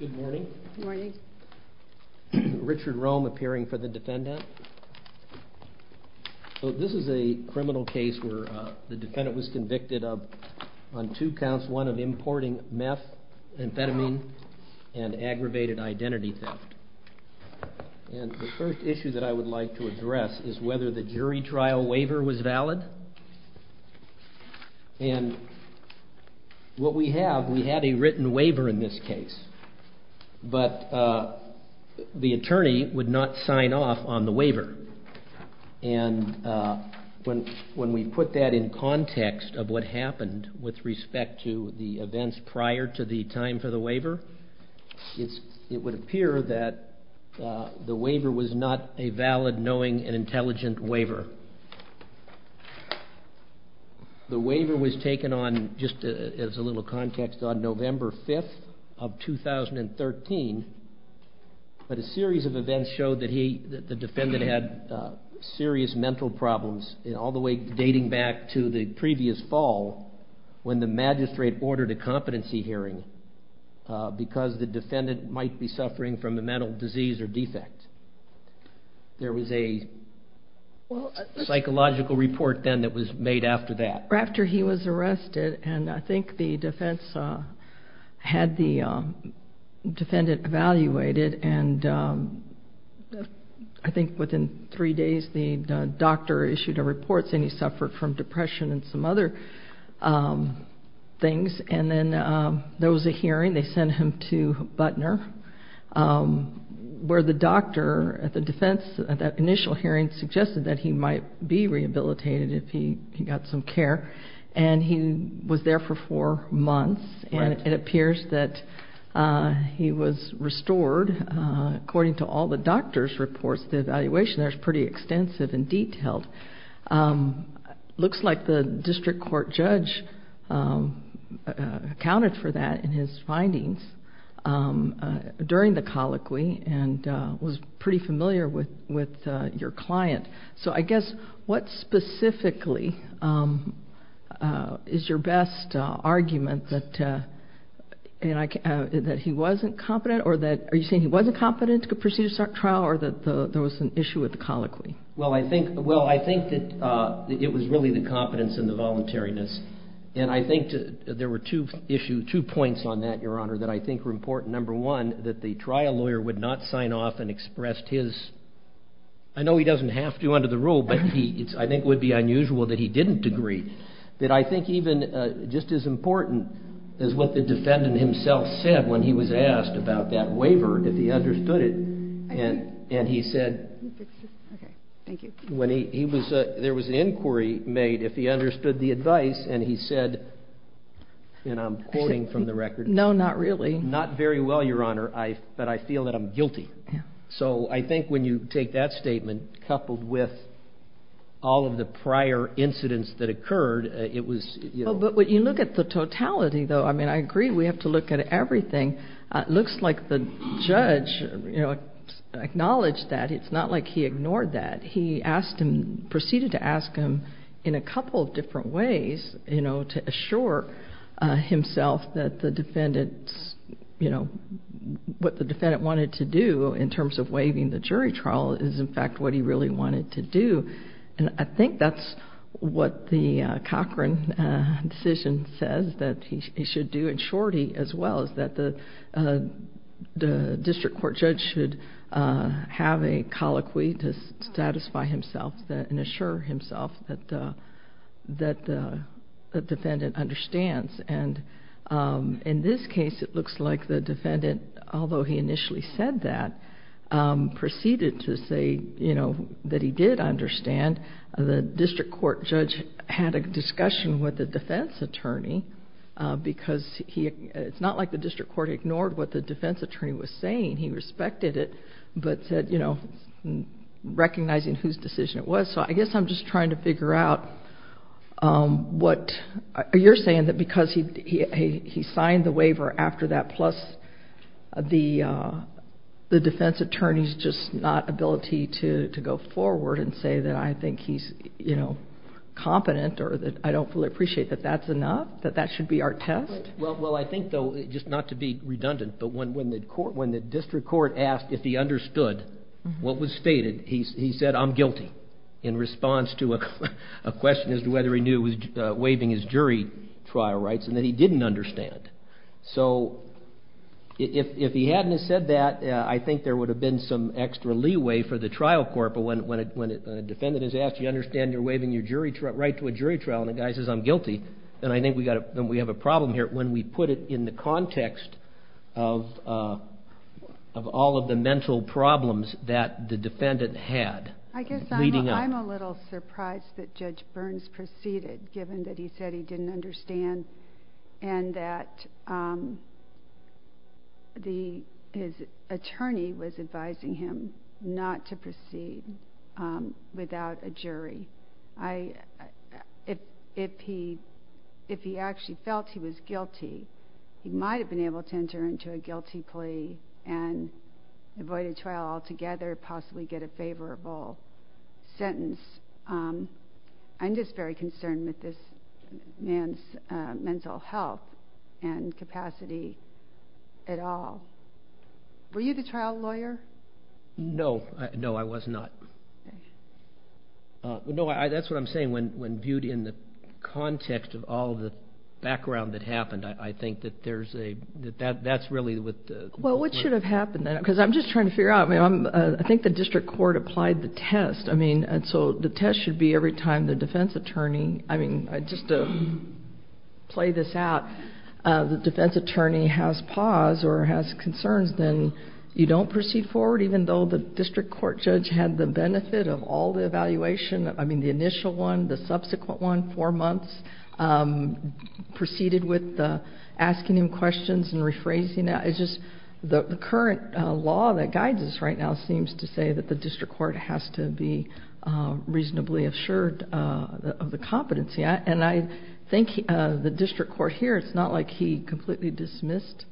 Good morning. Richard Rome appearing for the defendant. So this is a criminal case where the defendant was convicted of, on two counts, one of importing meth, amphetamine, and aggravated identity theft. And the first issue that I would like to address is whether the jury trial waiver was valid. And what we have, we had a written waiver in this case, but the attorney would not sign off on the waiver. And when we put that in context of what happened with respect to the events prior to the time for the waiver, it would appear that the waiver was not a valid, knowing, and intelligent waiver. The waiver was taken on, just as a little context, on November 5th of 2013, but a series of events showed that the defendant had serious mental problems, all the way dating back to the previous fall, when the magistrate ordered a competency hearing because the defendant might be suffering from a mental disease or defect. There was a psychological report then that was made after that? After he was arrested, and I think the defense had the defendant evaluated, and I think within three days the doctor issued a report saying he suffered from depression and some other things. And then there was a hearing, they sent him to Butner, where the doctor at the defense, at that initial hearing, suggested that he might be rehabilitated if he got some care. And he was there for four months, and it appears that he was restored, according to all the doctor's reports, the evaluation there is pretty extensive and detailed. It looks like the district court judge accounted for that in his findings during the colloquy, and was pretty familiar with your client. So I guess, what specifically is your best argument, that he wasn't competent, or that, are you saying he wasn't competent to proceed with the trial, or that there was an issue with the colloquy? Well, I think that it was really the competence and the voluntariness. And I think there were two points on that, your honor, that I think were important. Number one, that the trial lawyer would not sign off and express his, I know he doesn't have to under the rule, but I think it would be unusual that he didn't agree. But I think even, just as important, is what the defendant himself said when he was asked about that waiver, if he understood it. And he said, there was an inquiry made, if he understood the advice, and he said, and I'm quoting from the record, No, not really. Not very well, your honor, but I feel that I'm guilty. So I think when you take that statement, coupled with all of the prior incidents that occurred, it was, you know. But when you look at the totality, though, I mean, I agree, we have to look at everything. It looks like the judge, you know, acknowledged that. It's not like he ignored that. He asked him, proceeded to ask him, in a couple of different ways, you know, to assure himself that the defendant's, you know, what the defendant wanted to do in terms of waiving the jury trial is, in fact, what he really wanted to do. And I think that's what the Cochran decision says that he should do. In short, he, as well, is that the district court judge should have a colloquy to satisfy himself and assure himself that the defendant understands. And in this case, it looks like the defendant, although he initially said that, proceeded to say, you know, that he did understand. And the district court judge had a discussion with the defense attorney because he, it's not like the district court ignored what the defense attorney was saying. He respected it, but said, you know, recognizing whose decision it was. So I guess I'm just trying to figure out what, you're saying that because he signed the waiver after that, plus the defense attorney's just not ability to go forward and say that I think he's, you know, competent or that I don't fully appreciate that that's enough, that that should be our test? Well, I think, though, just not to be redundant, but when the court, when the district court asked if he understood what was stated, he said, I'm guilty in response to a question as to whether he knew he was waiving his jury trial rights and that he didn't understand. So if he hadn't have said that, I think there would have been some extra leeway for the trial court, but when a defendant is asked, you understand you're waiving your jury trial, right to a jury trial, and the guy says, I'm guilty, then I think we have a problem here. I guess I'm a little surprised that Judge Burns proceeded, given that he said he didn't understand and that his attorney was advising him not to proceed without a jury. If he actually felt he was guilty, he might have been able to enter into a guilty plea and avoid a trial altogether, possibly get a favorable sentence. I'm just very concerned with this man's mental health and capacity at all. Were you the trial lawyer? No. No, I was not. No, that's what I'm saying. When viewed in the context of all the background that happened, I think that there's a, that's really what the... Well, what should have happened then? Because I'm just trying to figure out. I think the district court applied the test. I mean, and so the test should be every time the defense attorney, I mean, just to play this out, the defense attorney has pause or has concerns, then you don't proceed forward, even though the district court judge had the benefit of all the evaluation. I mean, the initial one, the subsequent one, four months, proceeded with asking him questions and rephrasing it. The current law that guides us right now seems to say that the district court has to be reasonably assured of the competency. And I think the district court here, it's not like he completely dismissed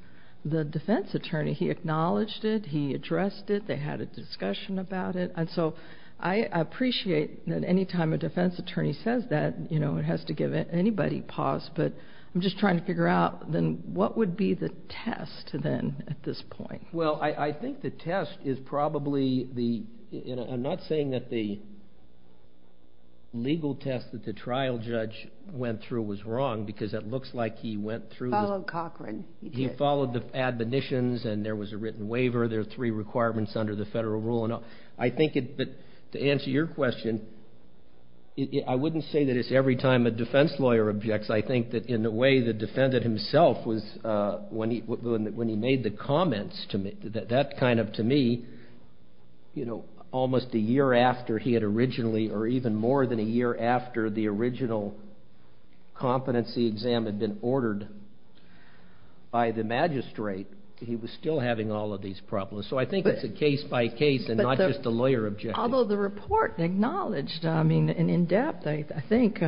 the defense attorney. He acknowledged it. He addressed it. They had a discussion about it. And so I appreciate that any time a defense attorney says that, you know, it has to give anybody pause. But I'm just trying to figure out then what would be the test then at this point? Well, I think the test is probably the, and I'm not saying that the legal test that the trial judge went through was wrong because it looks like he went through... Followed Cochran. He did. He followed the admonitions and there was a written waiver. There are three requirements under the federal rule. I think that to answer your question, I wouldn't say that it's every time a defense lawyer objects. I think that in the way the defendant himself was, when he made the comments to me, that kind of to me, you know, almost a year after he had originally or even more than a year after the original competency exam had been ordered by the magistrate, he was still having all of these problems. So I think it's a case by case and not just a lawyer objective. Although the report acknowledged, I mean, in depth, I think,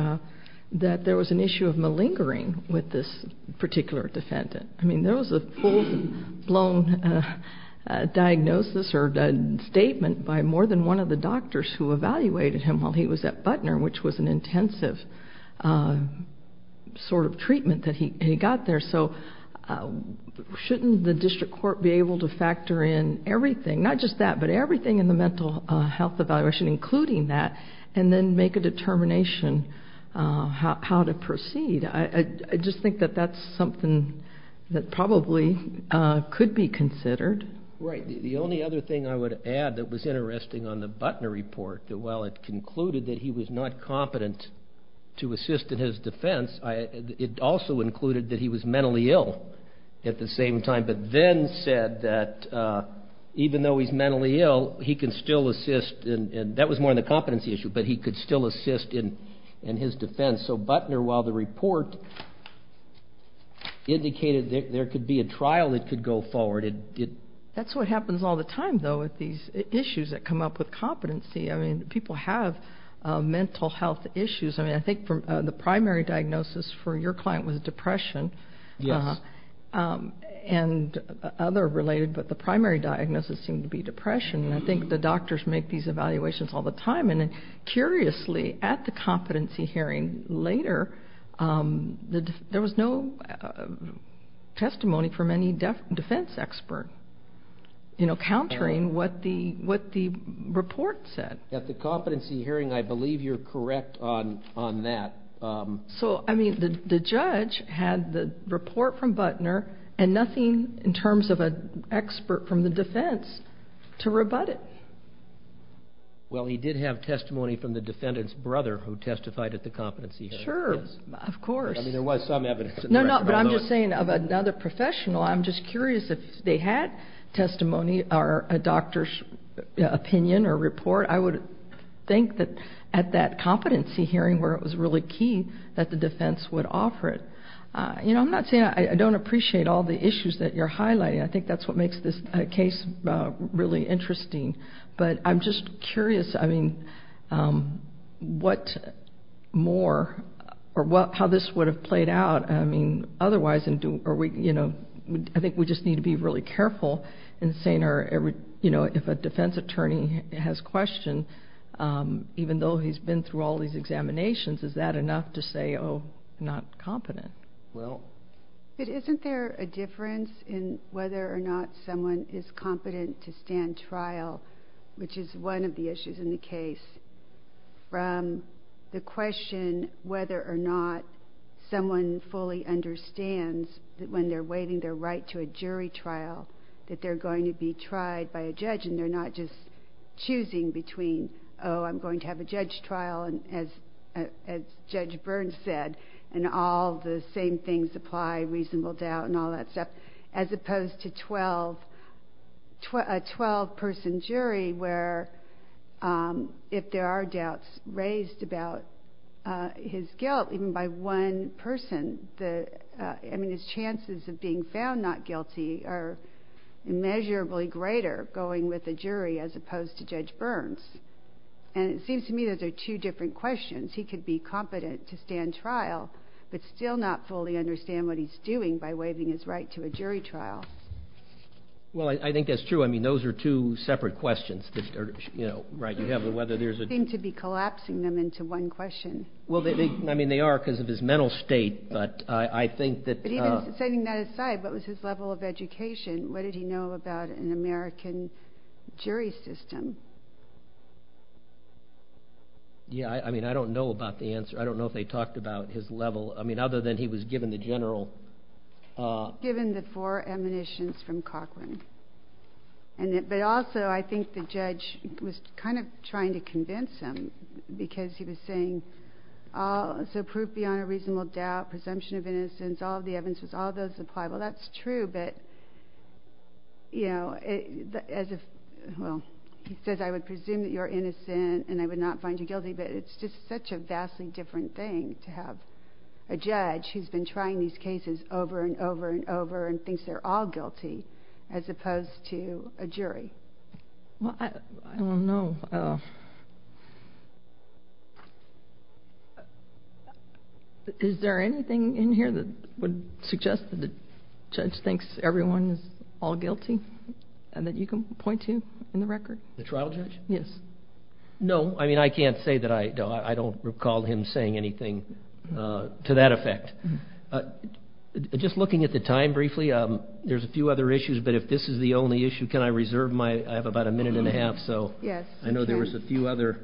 that there was an issue of malingering with this particular defendant. I mean, there was a full-blown diagnosis or statement by more than one of the doctors who evaluated him while he was at Butner, which was an intensive sort of treatment that he got there. So shouldn't the district court be able to factor in everything, not just that, but everything in the mental health evaluation, including that, and then make a determination how to proceed? I just think that that's something that probably could be considered. Right. The only other thing I would add that was interesting on the Butner report, that while it concluded that he was not competent to assist in his defense, it also included that he was mentally ill at the same time, but then said that even though he's mentally ill, he can still assist. And that was more on the competency issue, but he could still assist in his defense. So Butner, while the report indicated there could be a trial that could go forward, it did. That's what happens all the time, though, with these issues that come up with competency. I mean, people have mental health issues. I mean, I think the primary diagnosis for your client was depression. Yes. And other related, but the primary diagnosis seemed to be depression. And I think the doctors make these evaluations all the time. And curiously, at the competency hearing later, there was no testimony from any defense expert, you know, countering what the report said. At the competency hearing, I believe you're correct on that. So, I mean, the judge had the report from Butner and nothing in terms of an expert from the defense to rebut it. Well, he did have testimony from the defendant's brother who testified at the competency hearing. Sure. Of course. I mean, there was some evidence. No, no, but I'm just saying of another professional, I'm just curious if they had testimony or a doctor's opinion or report. I would think that at that competency hearing where it was really key that the defense would offer it. You know, I'm not saying I don't appreciate all the issues that you're highlighting. I think that's what makes this case really interesting. But I'm just curious. I mean, what more or how this would have played out, I mean, otherwise, you know, I think we just need to be really careful in saying, you know, if a defense attorney has questioned, even though he's been through all these examinations, is that enough to say, oh, not competent? But isn't there a difference in whether or not someone is competent to stand trial, which is one of the issues in the case, from the question whether or not someone fully understands that when they're waiving their right to a jury trial, that they're going to be tried by a judge and they're not just choosing between, oh, I'm going to have a judge trial, as Judge Burns said, and all the same things apply, reasonable doubt and all that stuff, as opposed to a 12-person jury where if there are doubts raised about his guilt even by one person, I mean, his chances of being found not guilty are immeasurably greater going with a jury as opposed to Judge Burns. And it seems to me those are two different questions. He could be competent to stand trial but still not fully understand what he's doing by waiving his right to a jury trial. Well, I think that's true. I mean, those are two separate questions that are, you know, right. You have whether there's a… They seem to be collapsing them into one question. Well, I mean, they are because of his mental state, but I think that… But even setting that aside, what was his level of education? What did he know about an American jury system? Yeah, I mean, I don't know about the answer. I don't know if they talked about his level. I mean, other than he was given the general… Given the four admonitions from Cochran. But also I think the judge was kind of trying to convince him because he was saying, so proof beyond a reasonable doubt, presumption of innocence, all of the evidences, all of those apply. Well, that's true, but, you know, as if, well, he says, I would presume that you're innocent and I would not find you guilty. But it's just such a vastly different thing to have a judge who's been trying these cases over and over and over and thinks they're all guilty as opposed to a jury. Well, I don't know. Is there anything in here that would suggest that the judge thinks everyone is all guilty and that you can point to in the record? The trial judge? Yes. No, I mean, I can't say that I don't recall him saying anything to that effect. Just looking at the time briefly, there's a few other issues, but if this is the only issue, can I reserve my, I have about a minute and a half, so. Yes. I know there was a few other.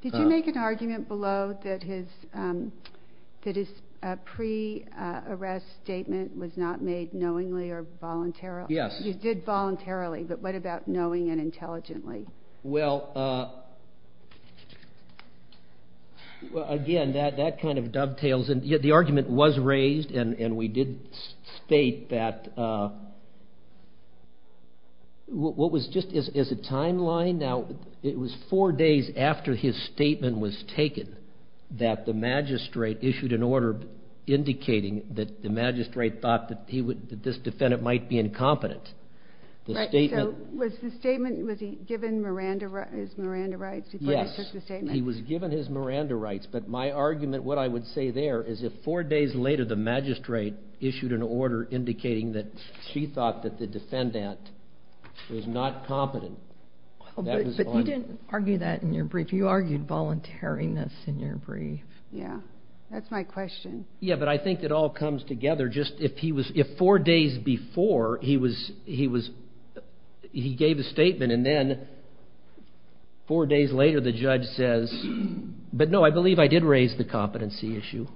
Did you make an argument below that his pre-arrest statement was not made knowingly or voluntarily? Yes. You did voluntarily, but what about knowing and intelligently? Well, again, that kind of dovetails. The argument was raised, and we did state that what was just as a timeline, now it was four days after his statement was taken that the magistrate issued an order indicating that the magistrate thought that this defendant might be incompetent. Right, so was the statement, was he given his Miranda rights before he took the statement? Yes, he was given his Miranda rights. But my argument, what I would say there, is if four days later the magistrate issued an order indicating that she thought that the defendant was not competent, that was voluntary. But you didn't argue that in your brief. You argued voluntariness in your brief. Yes, that's my question. Yes, but I think it all comes together. Just if he was, if four days before he was, he gave a statement and then four days later the judge says, but no, I believe I did raise the competency issue.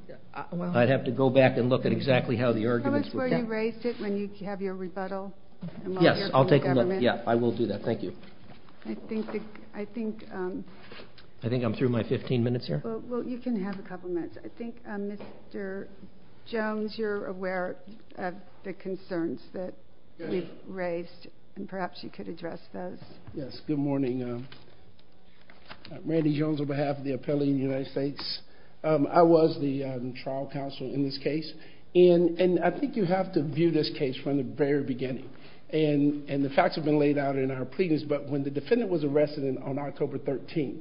I'd have to go back and look at exactly how the arguments were. Tell us where you raised it when you have your rebuttal. Yes, I'll take a look. Yeah, I will do that. Thank you. I think the, I think. I think I'm through my 15 minutes here. Well, you can have a couple minutes. I think Mr. Jones, you're aware of the concerns that we've raised, and perhaps you could address those. Yes, good morning. I'm Randy Jones on behalf of the Appellee in the United States. I was the trial counsel in this case. And I think you have to view this case from the very beginning. And the facts have been laid out in our pleadings, but when the defendant was arrested on October 13th,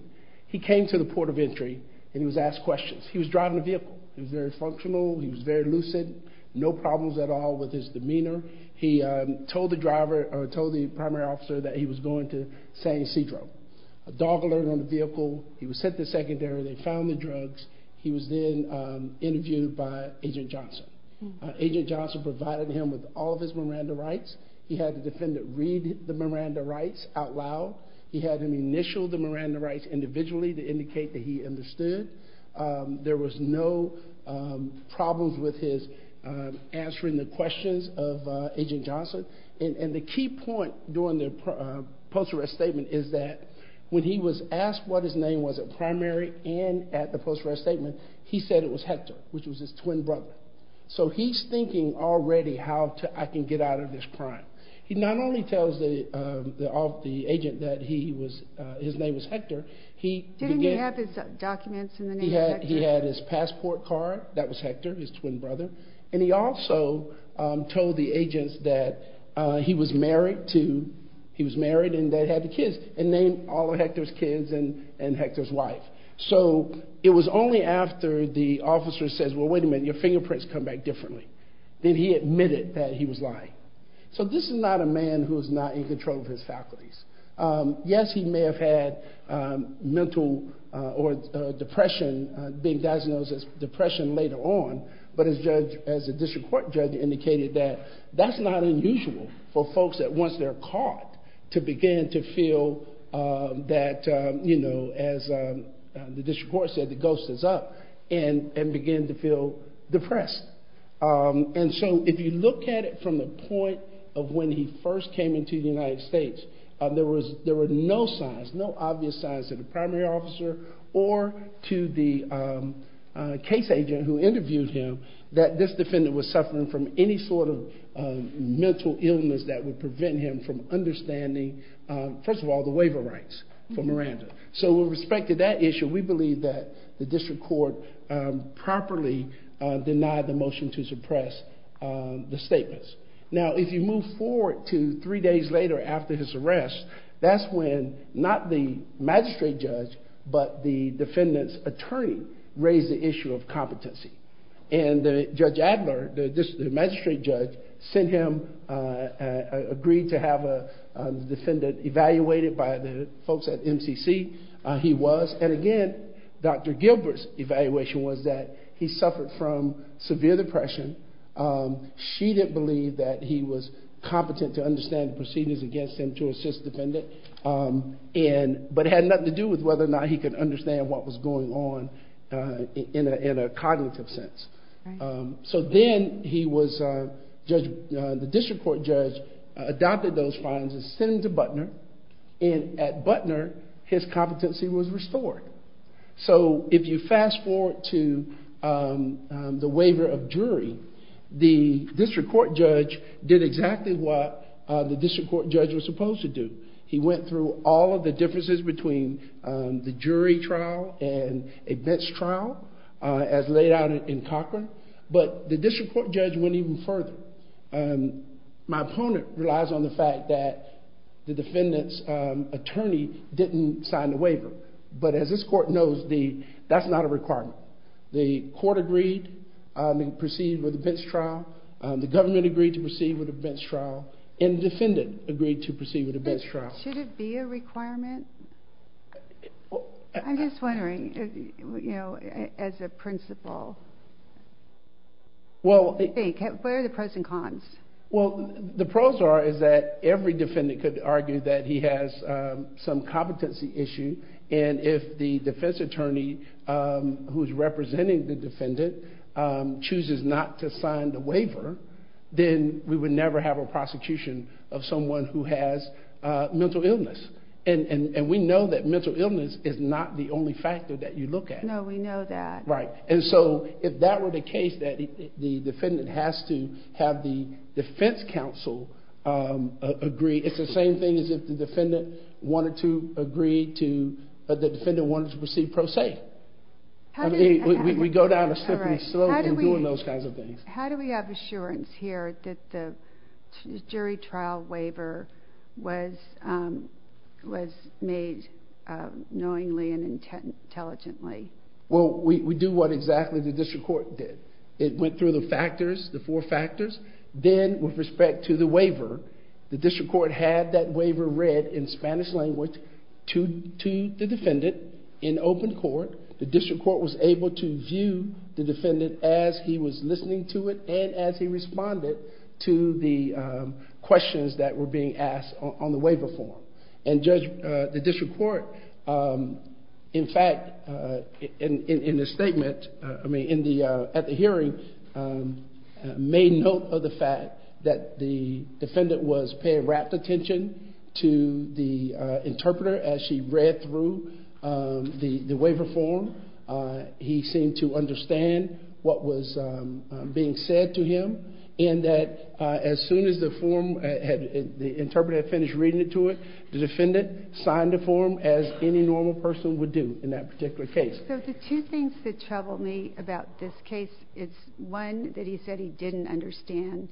he came to the port of entry and he was asked questions. He was driving a vehicle. He was very functional. He was very lucid. No problems at all with his demeanor. He told the driver or told the primary officer that he was going to San Ysidro. A dog alert on the vehicle. He was sent to secondary. They found the drugs. He was then interviewed by Agent Johnson. Agent Johnson provided him with all of his Miranda rights. He had the defendant read the Miranda rights out loud. He had him initial the Miranda rights individually to indicate that he understood. There was no problems with his answering the questions of Agent Johnson. And the key point during the post-arrest statement is that when he was asked what his name was at primary and at the post-arrest statement, he said it was Hector, which was his twin brother. So he's thinking already how I can get out of this crime. He not only tells the agent that his name was Hector. Didn't he have his documents in the name of Hector? He had his passport card. That was Hector, his twin brother. And he also told the agents that he was married and that he had the kids and named all of Hector's kids and Hector's wife. So it was only after the officer says, well, wait a minute. Your fingerprints come back differently. Then he admitted that he was lying. So this is not a man who is not in control of his faculties. Yes, he may have had mental or depression, being diagnosed as depression later on. But as the district court judge indicated, that's not unusual for folks that once they're caught to begin to feel that, as the district court said, the ghost is up and begin to feel depressed. And so if you look at it from the point of when he first came into the United States, there were no signs, no obvious signs to the primary officer or to the case agent who interviewed him that this defendant was suffering from any sort of mental illness that would prevent him from understanding, first of all, the waiver rights for Miranda. So with respect to that issue, we believe that the district court properly denied the motion to suppress the statements. Now, if you move forward to three days later after his arrest, that's when not the magistrate judge but the defendant's attorney raised the issue of competency. And Judge Adler, the magistrate judge, sent him, agreed to have the defendant evaluated by the folks at MCC. He was. And again, Dr. Gilbert's evaluation was that he suffered from severe depression. She didn't believe that he was competent to understand the proceedings against him to assist the defendant. But it had nothing to do with whether or not he could understand what was going on in a cognitive sense. So then he was, the district court judge adopted those fines and sent him to Butner. And at Butner, his competency was restored. So if you fast forward to the waiver of jury, the district court judge did exactly what the district court judge was supposed to do. He went through all of the differences between the jury trial and a bench trial, as laid out in Cochran. But the district court judge went even further. My opponent relies on the fact that the defendant's attorney didn't sign the waiver. But as this court knows, that's not a requirement. The court agreed to proceed with a bench trial. The government agreed to proceed with a bench trial. And the defendant agreed to proceed with a bench trial. Should it be a requirement? I'm just wondering, as a principal, what are the pros and cons? Well, the pros are that every defendant could argue that he has some competency issue. And if the defense attorney who's representing the defendant chooses not to sign the waiver, then we would never have a prosecution of someone who has mental illness. And we know that mental illness is not the only factor that you look at. No, we know that. Right. And so if that were the case, that the defendant has to have the defense counsel agree, it's the same thing as if the defendant wanted to agree to, the defendant wanted to proceed pro se. We go down a slippery slope in doing those kinds of things. How do we have assurance here that the jury trial waiver was made knowingly and intelligently? Well, we do what exactly the district court did. It went through the factors, the four factors. Then with respect to the waiver, the district court had that waiver read in Spanish language to the defendant in open court. The district court was able to view the defendant as he was listening to it and as he responded to the questions that were being asked on the waiver form. And the district court, in fact, in the statement, I mean, at the hearing, made note of the fact that the defendant was paying rapt attention to the interpreter as she read through the waiver form. He seemed to understand what was being said to him, and that as soon as the form, the interpreter had finished reading it to it, the defendant signed the form as any normal person would do in that particular case. So the two things that trouble me about this case is, one, that he said he didn't understand,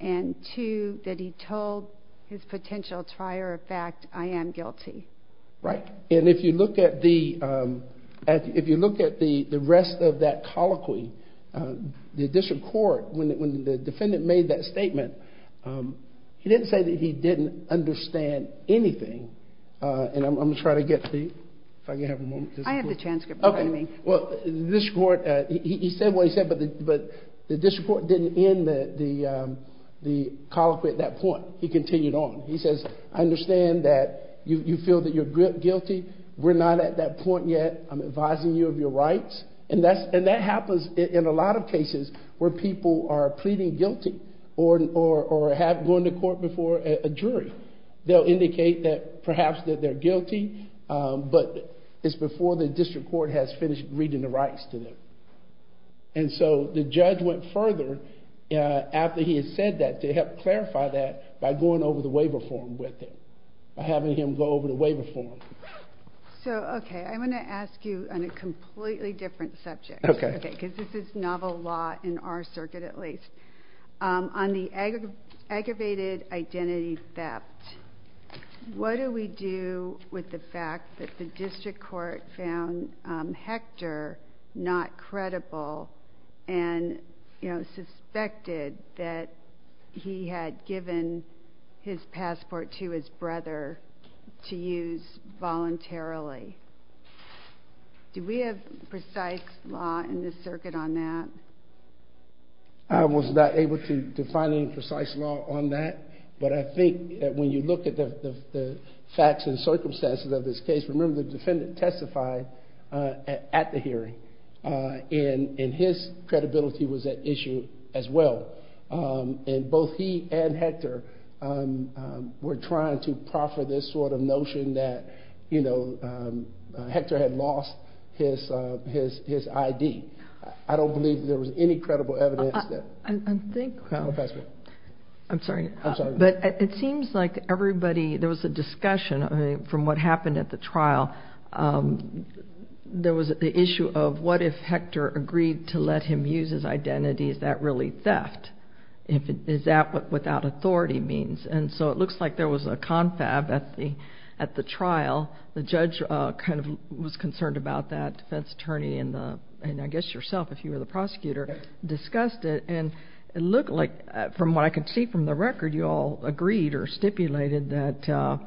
and two, that he told his potential trier of fact, I am guilty. Right. And if you look at the rest of that colloquy, the district court, when the defendant made that statement, he didn't say that he didn't understand anything. And I'm going to try to get to you, if I can have a moment. I have the transcript in front of me. Okay. Well, the district court, he said what he said, but the district court didn't end the colloquy at that point. He continued on. He says, I understand that you feel that you're guilty. We're not at that point yet. I'm advising you of your rights. And that happens in a lot of cases where people are pleading guilty or have gone to court before a jury. They'll indicate that perhaps that they're guilty, but it's before the district court has finished reading the rights to them. And so the judge went further after he had said that to help clarify that by going over the waiver form with him, by having him go over the waiver form. So, okay, I'm going to ask you on a completely different subject. Okay. Because this is novel law in our circuit, at least. On the aggravated identity theft, what do we do with the fact that the district court found Hector not credible and suspected that he had given his passport to his brother to use voluntarily? Do we have precise law in the circuit on that? I was not able to find any precise law on that, but I think that when you look at the facts and circumstances of this case, remember the defendant testified at the hearing, and his credibility was at issue as well. And both he and Hector were trying to proffer this sort of notion that, you know, Hector had lost his ID. I don't believe there was any credible evidence. I'm sorry. I'm sorry. But it seems like everybody, there was a discussion from what happened at the trial. There was the issue of what if Hector agreed to let him use his identity, is that really theft? Is that what without authority means? And so it looks like there was a confab at the trial. The judge kind of was concerned about that. The defense attorney and I guess yourself, if you were the prosecutor, discussed it. And it looked like, from what I could see from the record, you all agreed or stipulated that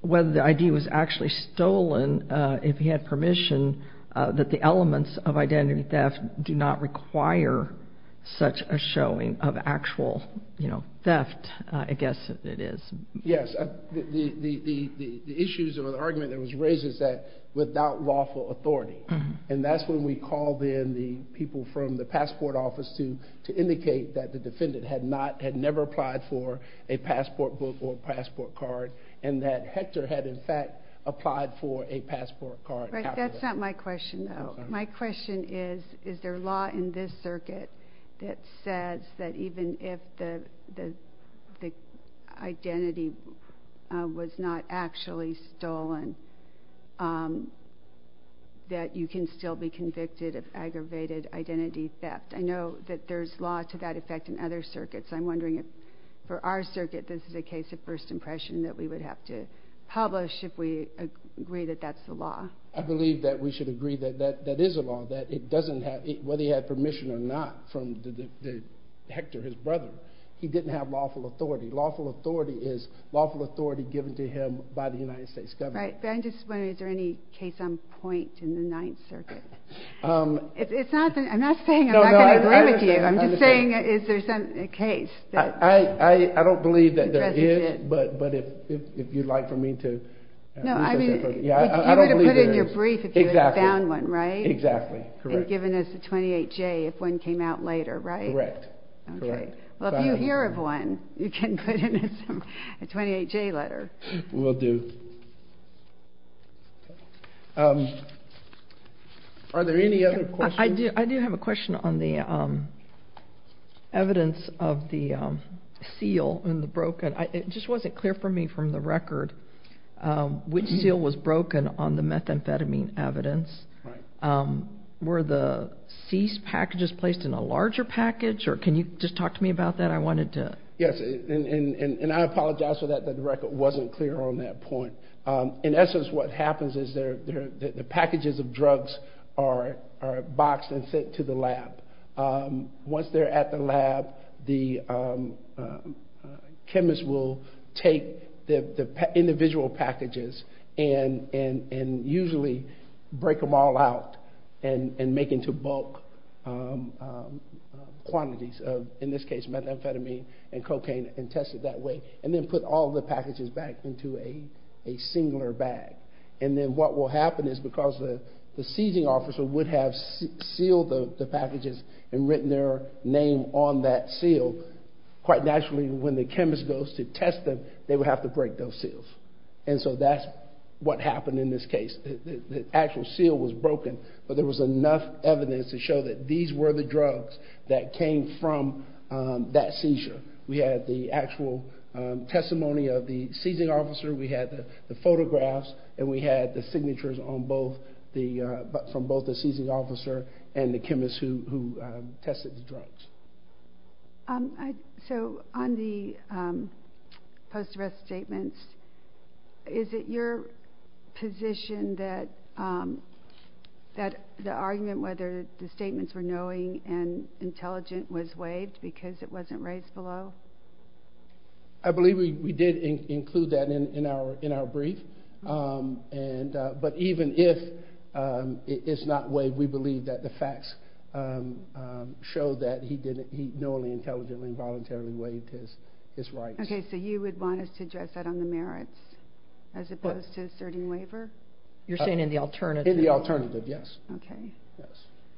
whether the ID was actually stolen, if he had permission, that the elements of identity theft do not require such a showing of actual theft, I guess it is. Yes. The issues or the argument that was raised is that without lawful authority. And that's when we called in the people from the passport office to indicate that the defendant had not, had never applied for a passport book or passport card, and that Hector had, in fact, applied for a passport card. That's not my question, though. My question is, is there law in this circuit that says that even if the identity was not actually stolen, that you can still be convicted of aggravated identity theft? I know that there's law to that effect in other circuits. I'm wondering if for our circuit this is a case of first impression that we would have to publish if we agree that that's the law. I believe that we should agree that that is a law, that it doesn't have, whether he had permission or not from Hector, his brother, he didn't have lawful authority. Lawful authority is lawful authority given to him by the United States government. Right. But I'm just wondering, is there any case on point in the Ninth Circuit? It's not, I'm not saying I'm not going to agree with you. I'm just saying, is there a case? I don't believe that there is, but if you'd like for me to. No, I mean, you would have put it in your brief if you had found one, right? Exactly, correct. And given us a 28-J if one came out later, right? Correct. Okay. Well, if you hear of one, you can put in a 28-J letter. Will do. Are there any other questions? I do have a question on the evidence of the seal and the broken. It just wasn't clear for me from the record which seal was broken on the methamphetamine evidence. Were the cease packages placed in a larger package, or can you just talk to me about that? Yes, and I apologize for that, that the record wasn't clear on that point. In essence, what happens is the packages of drugs are boxed and sent to the lab. Once they're at the lab, the chemist will take the individual packages and usually break them all out and make into bulk quantities, in this case methamphetamine and cocaine, and test it that way, and then put all the packages back into a singular bag. And then what will happen is because the seizing officer would have sealed the packages and written their name on that seal, quite naturally when the chemist goes to test them, they would have to break those seals. And so that's what happened in this case. The actual seal was broken, but there was enough evidence to show that these were the drugs that came from that seizure. We had the actual testimony of the seizing officer, we had the photographs, and we had the signatures from both the seizing officer and the chemist who tested the drugs. So on the post-arrest statements, is it your position that the argument whether the statements were knowing and intelligent was waived because it wasn't raised below? I believe we did include that in our brief. But even if it's not waived, we believe that the facts show that he knowingly, intelligently, and voluntarily waived his rights. Okay, so you would want us to address that on the merits as opposed to asserting waiver? You're saying in the alternative? In the alternative, yes. Okay,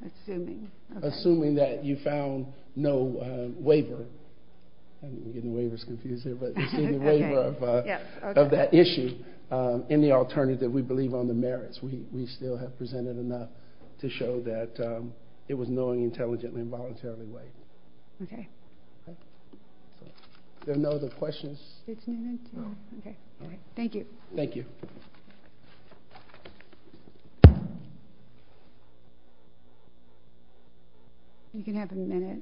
assuming. Assuming that you found no waiver. I'm getting waivers confused here, but you see the waiver of that issue. In the alternative, we believe on the merits. We still have presented enough to show that it was knowingly, intelligently, and voluntarily waived. Okay. Are there no other questions? No. Okay, all right. Thank you. Thank you. You can have a minute.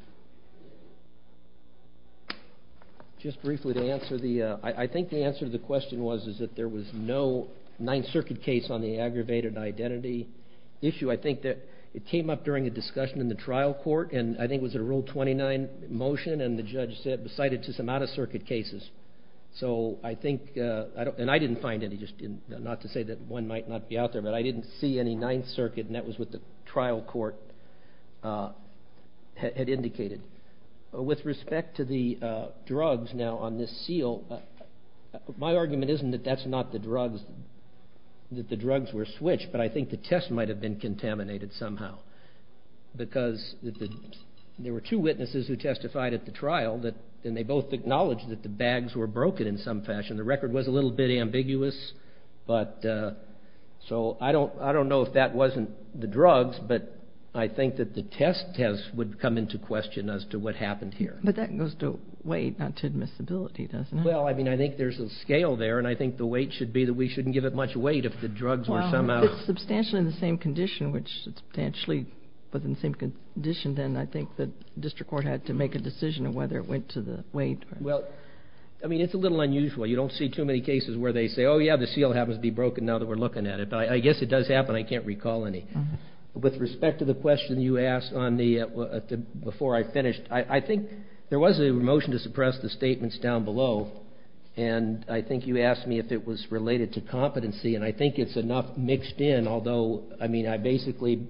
Just briefly to answer the, I think the answer to the question was that there was no Ninth Circuit case on the aggravated identity issue. I think that it came up during a discussion in the trial court, and I think it was a Rule 29 motion, and the judge cited just some out-of-circuit cases. So I think, and I didn't find any, not to say that one might not be out there, but I didn't see any Ninth Circuit, and that was what the trial court had indicated. With respect to the drugs now on this seal, my argument isn't that that's not the drugs, that the drugs were switched, but I think the test might have been contaminated somehow. Because there were two witnesses who testified at the trial, and they both acknowledged that the bags were broken in some fashion. The record was a little bit ambiguous, so I don't know if that wasn't the drugs, but I think that the test would come into question as to what happened here. But that goes to weight, not to admissibility, doesn't it? Well, I mean, I think there's a scale there, and I think the weight should be that we shouldn't give it much weight if the drugs were somehow… If it's substantially in the same condition, which substantially was in the same condition, then I think the district court had to make a decision on whether it went to the weight. Well, I mean, it's a little unusual. You don't see too many cases where they say, oh, yeah, the seal happens to be broken now that we're looking at it. But I guess it does happen. I can't recall any. With respect to the question you asked before I finished, I think there was a motion to suppress the statements down below, and I think you asked me if it was related to competency, and I think it's enough mixed in. Although, I mean, I basically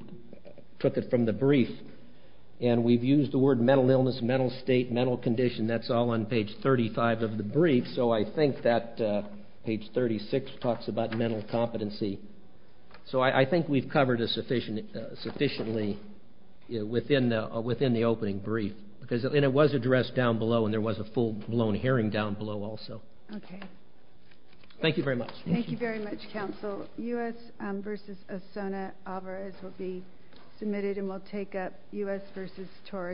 took it from the brief, and we've used the word mental illness, mental state, mental condition. That's all on page 35 of the brief, so I think that page 36 talks about mental competency. So I think we've covered it sufficiently within the opening brief, and it was addressed down below, and there was a full-blown hearing down below also. Okay. Thank you very much. Thank you very much, counsel. U.S. v. Osona Alvarez will be submitted and will take up U.S. v. Torres.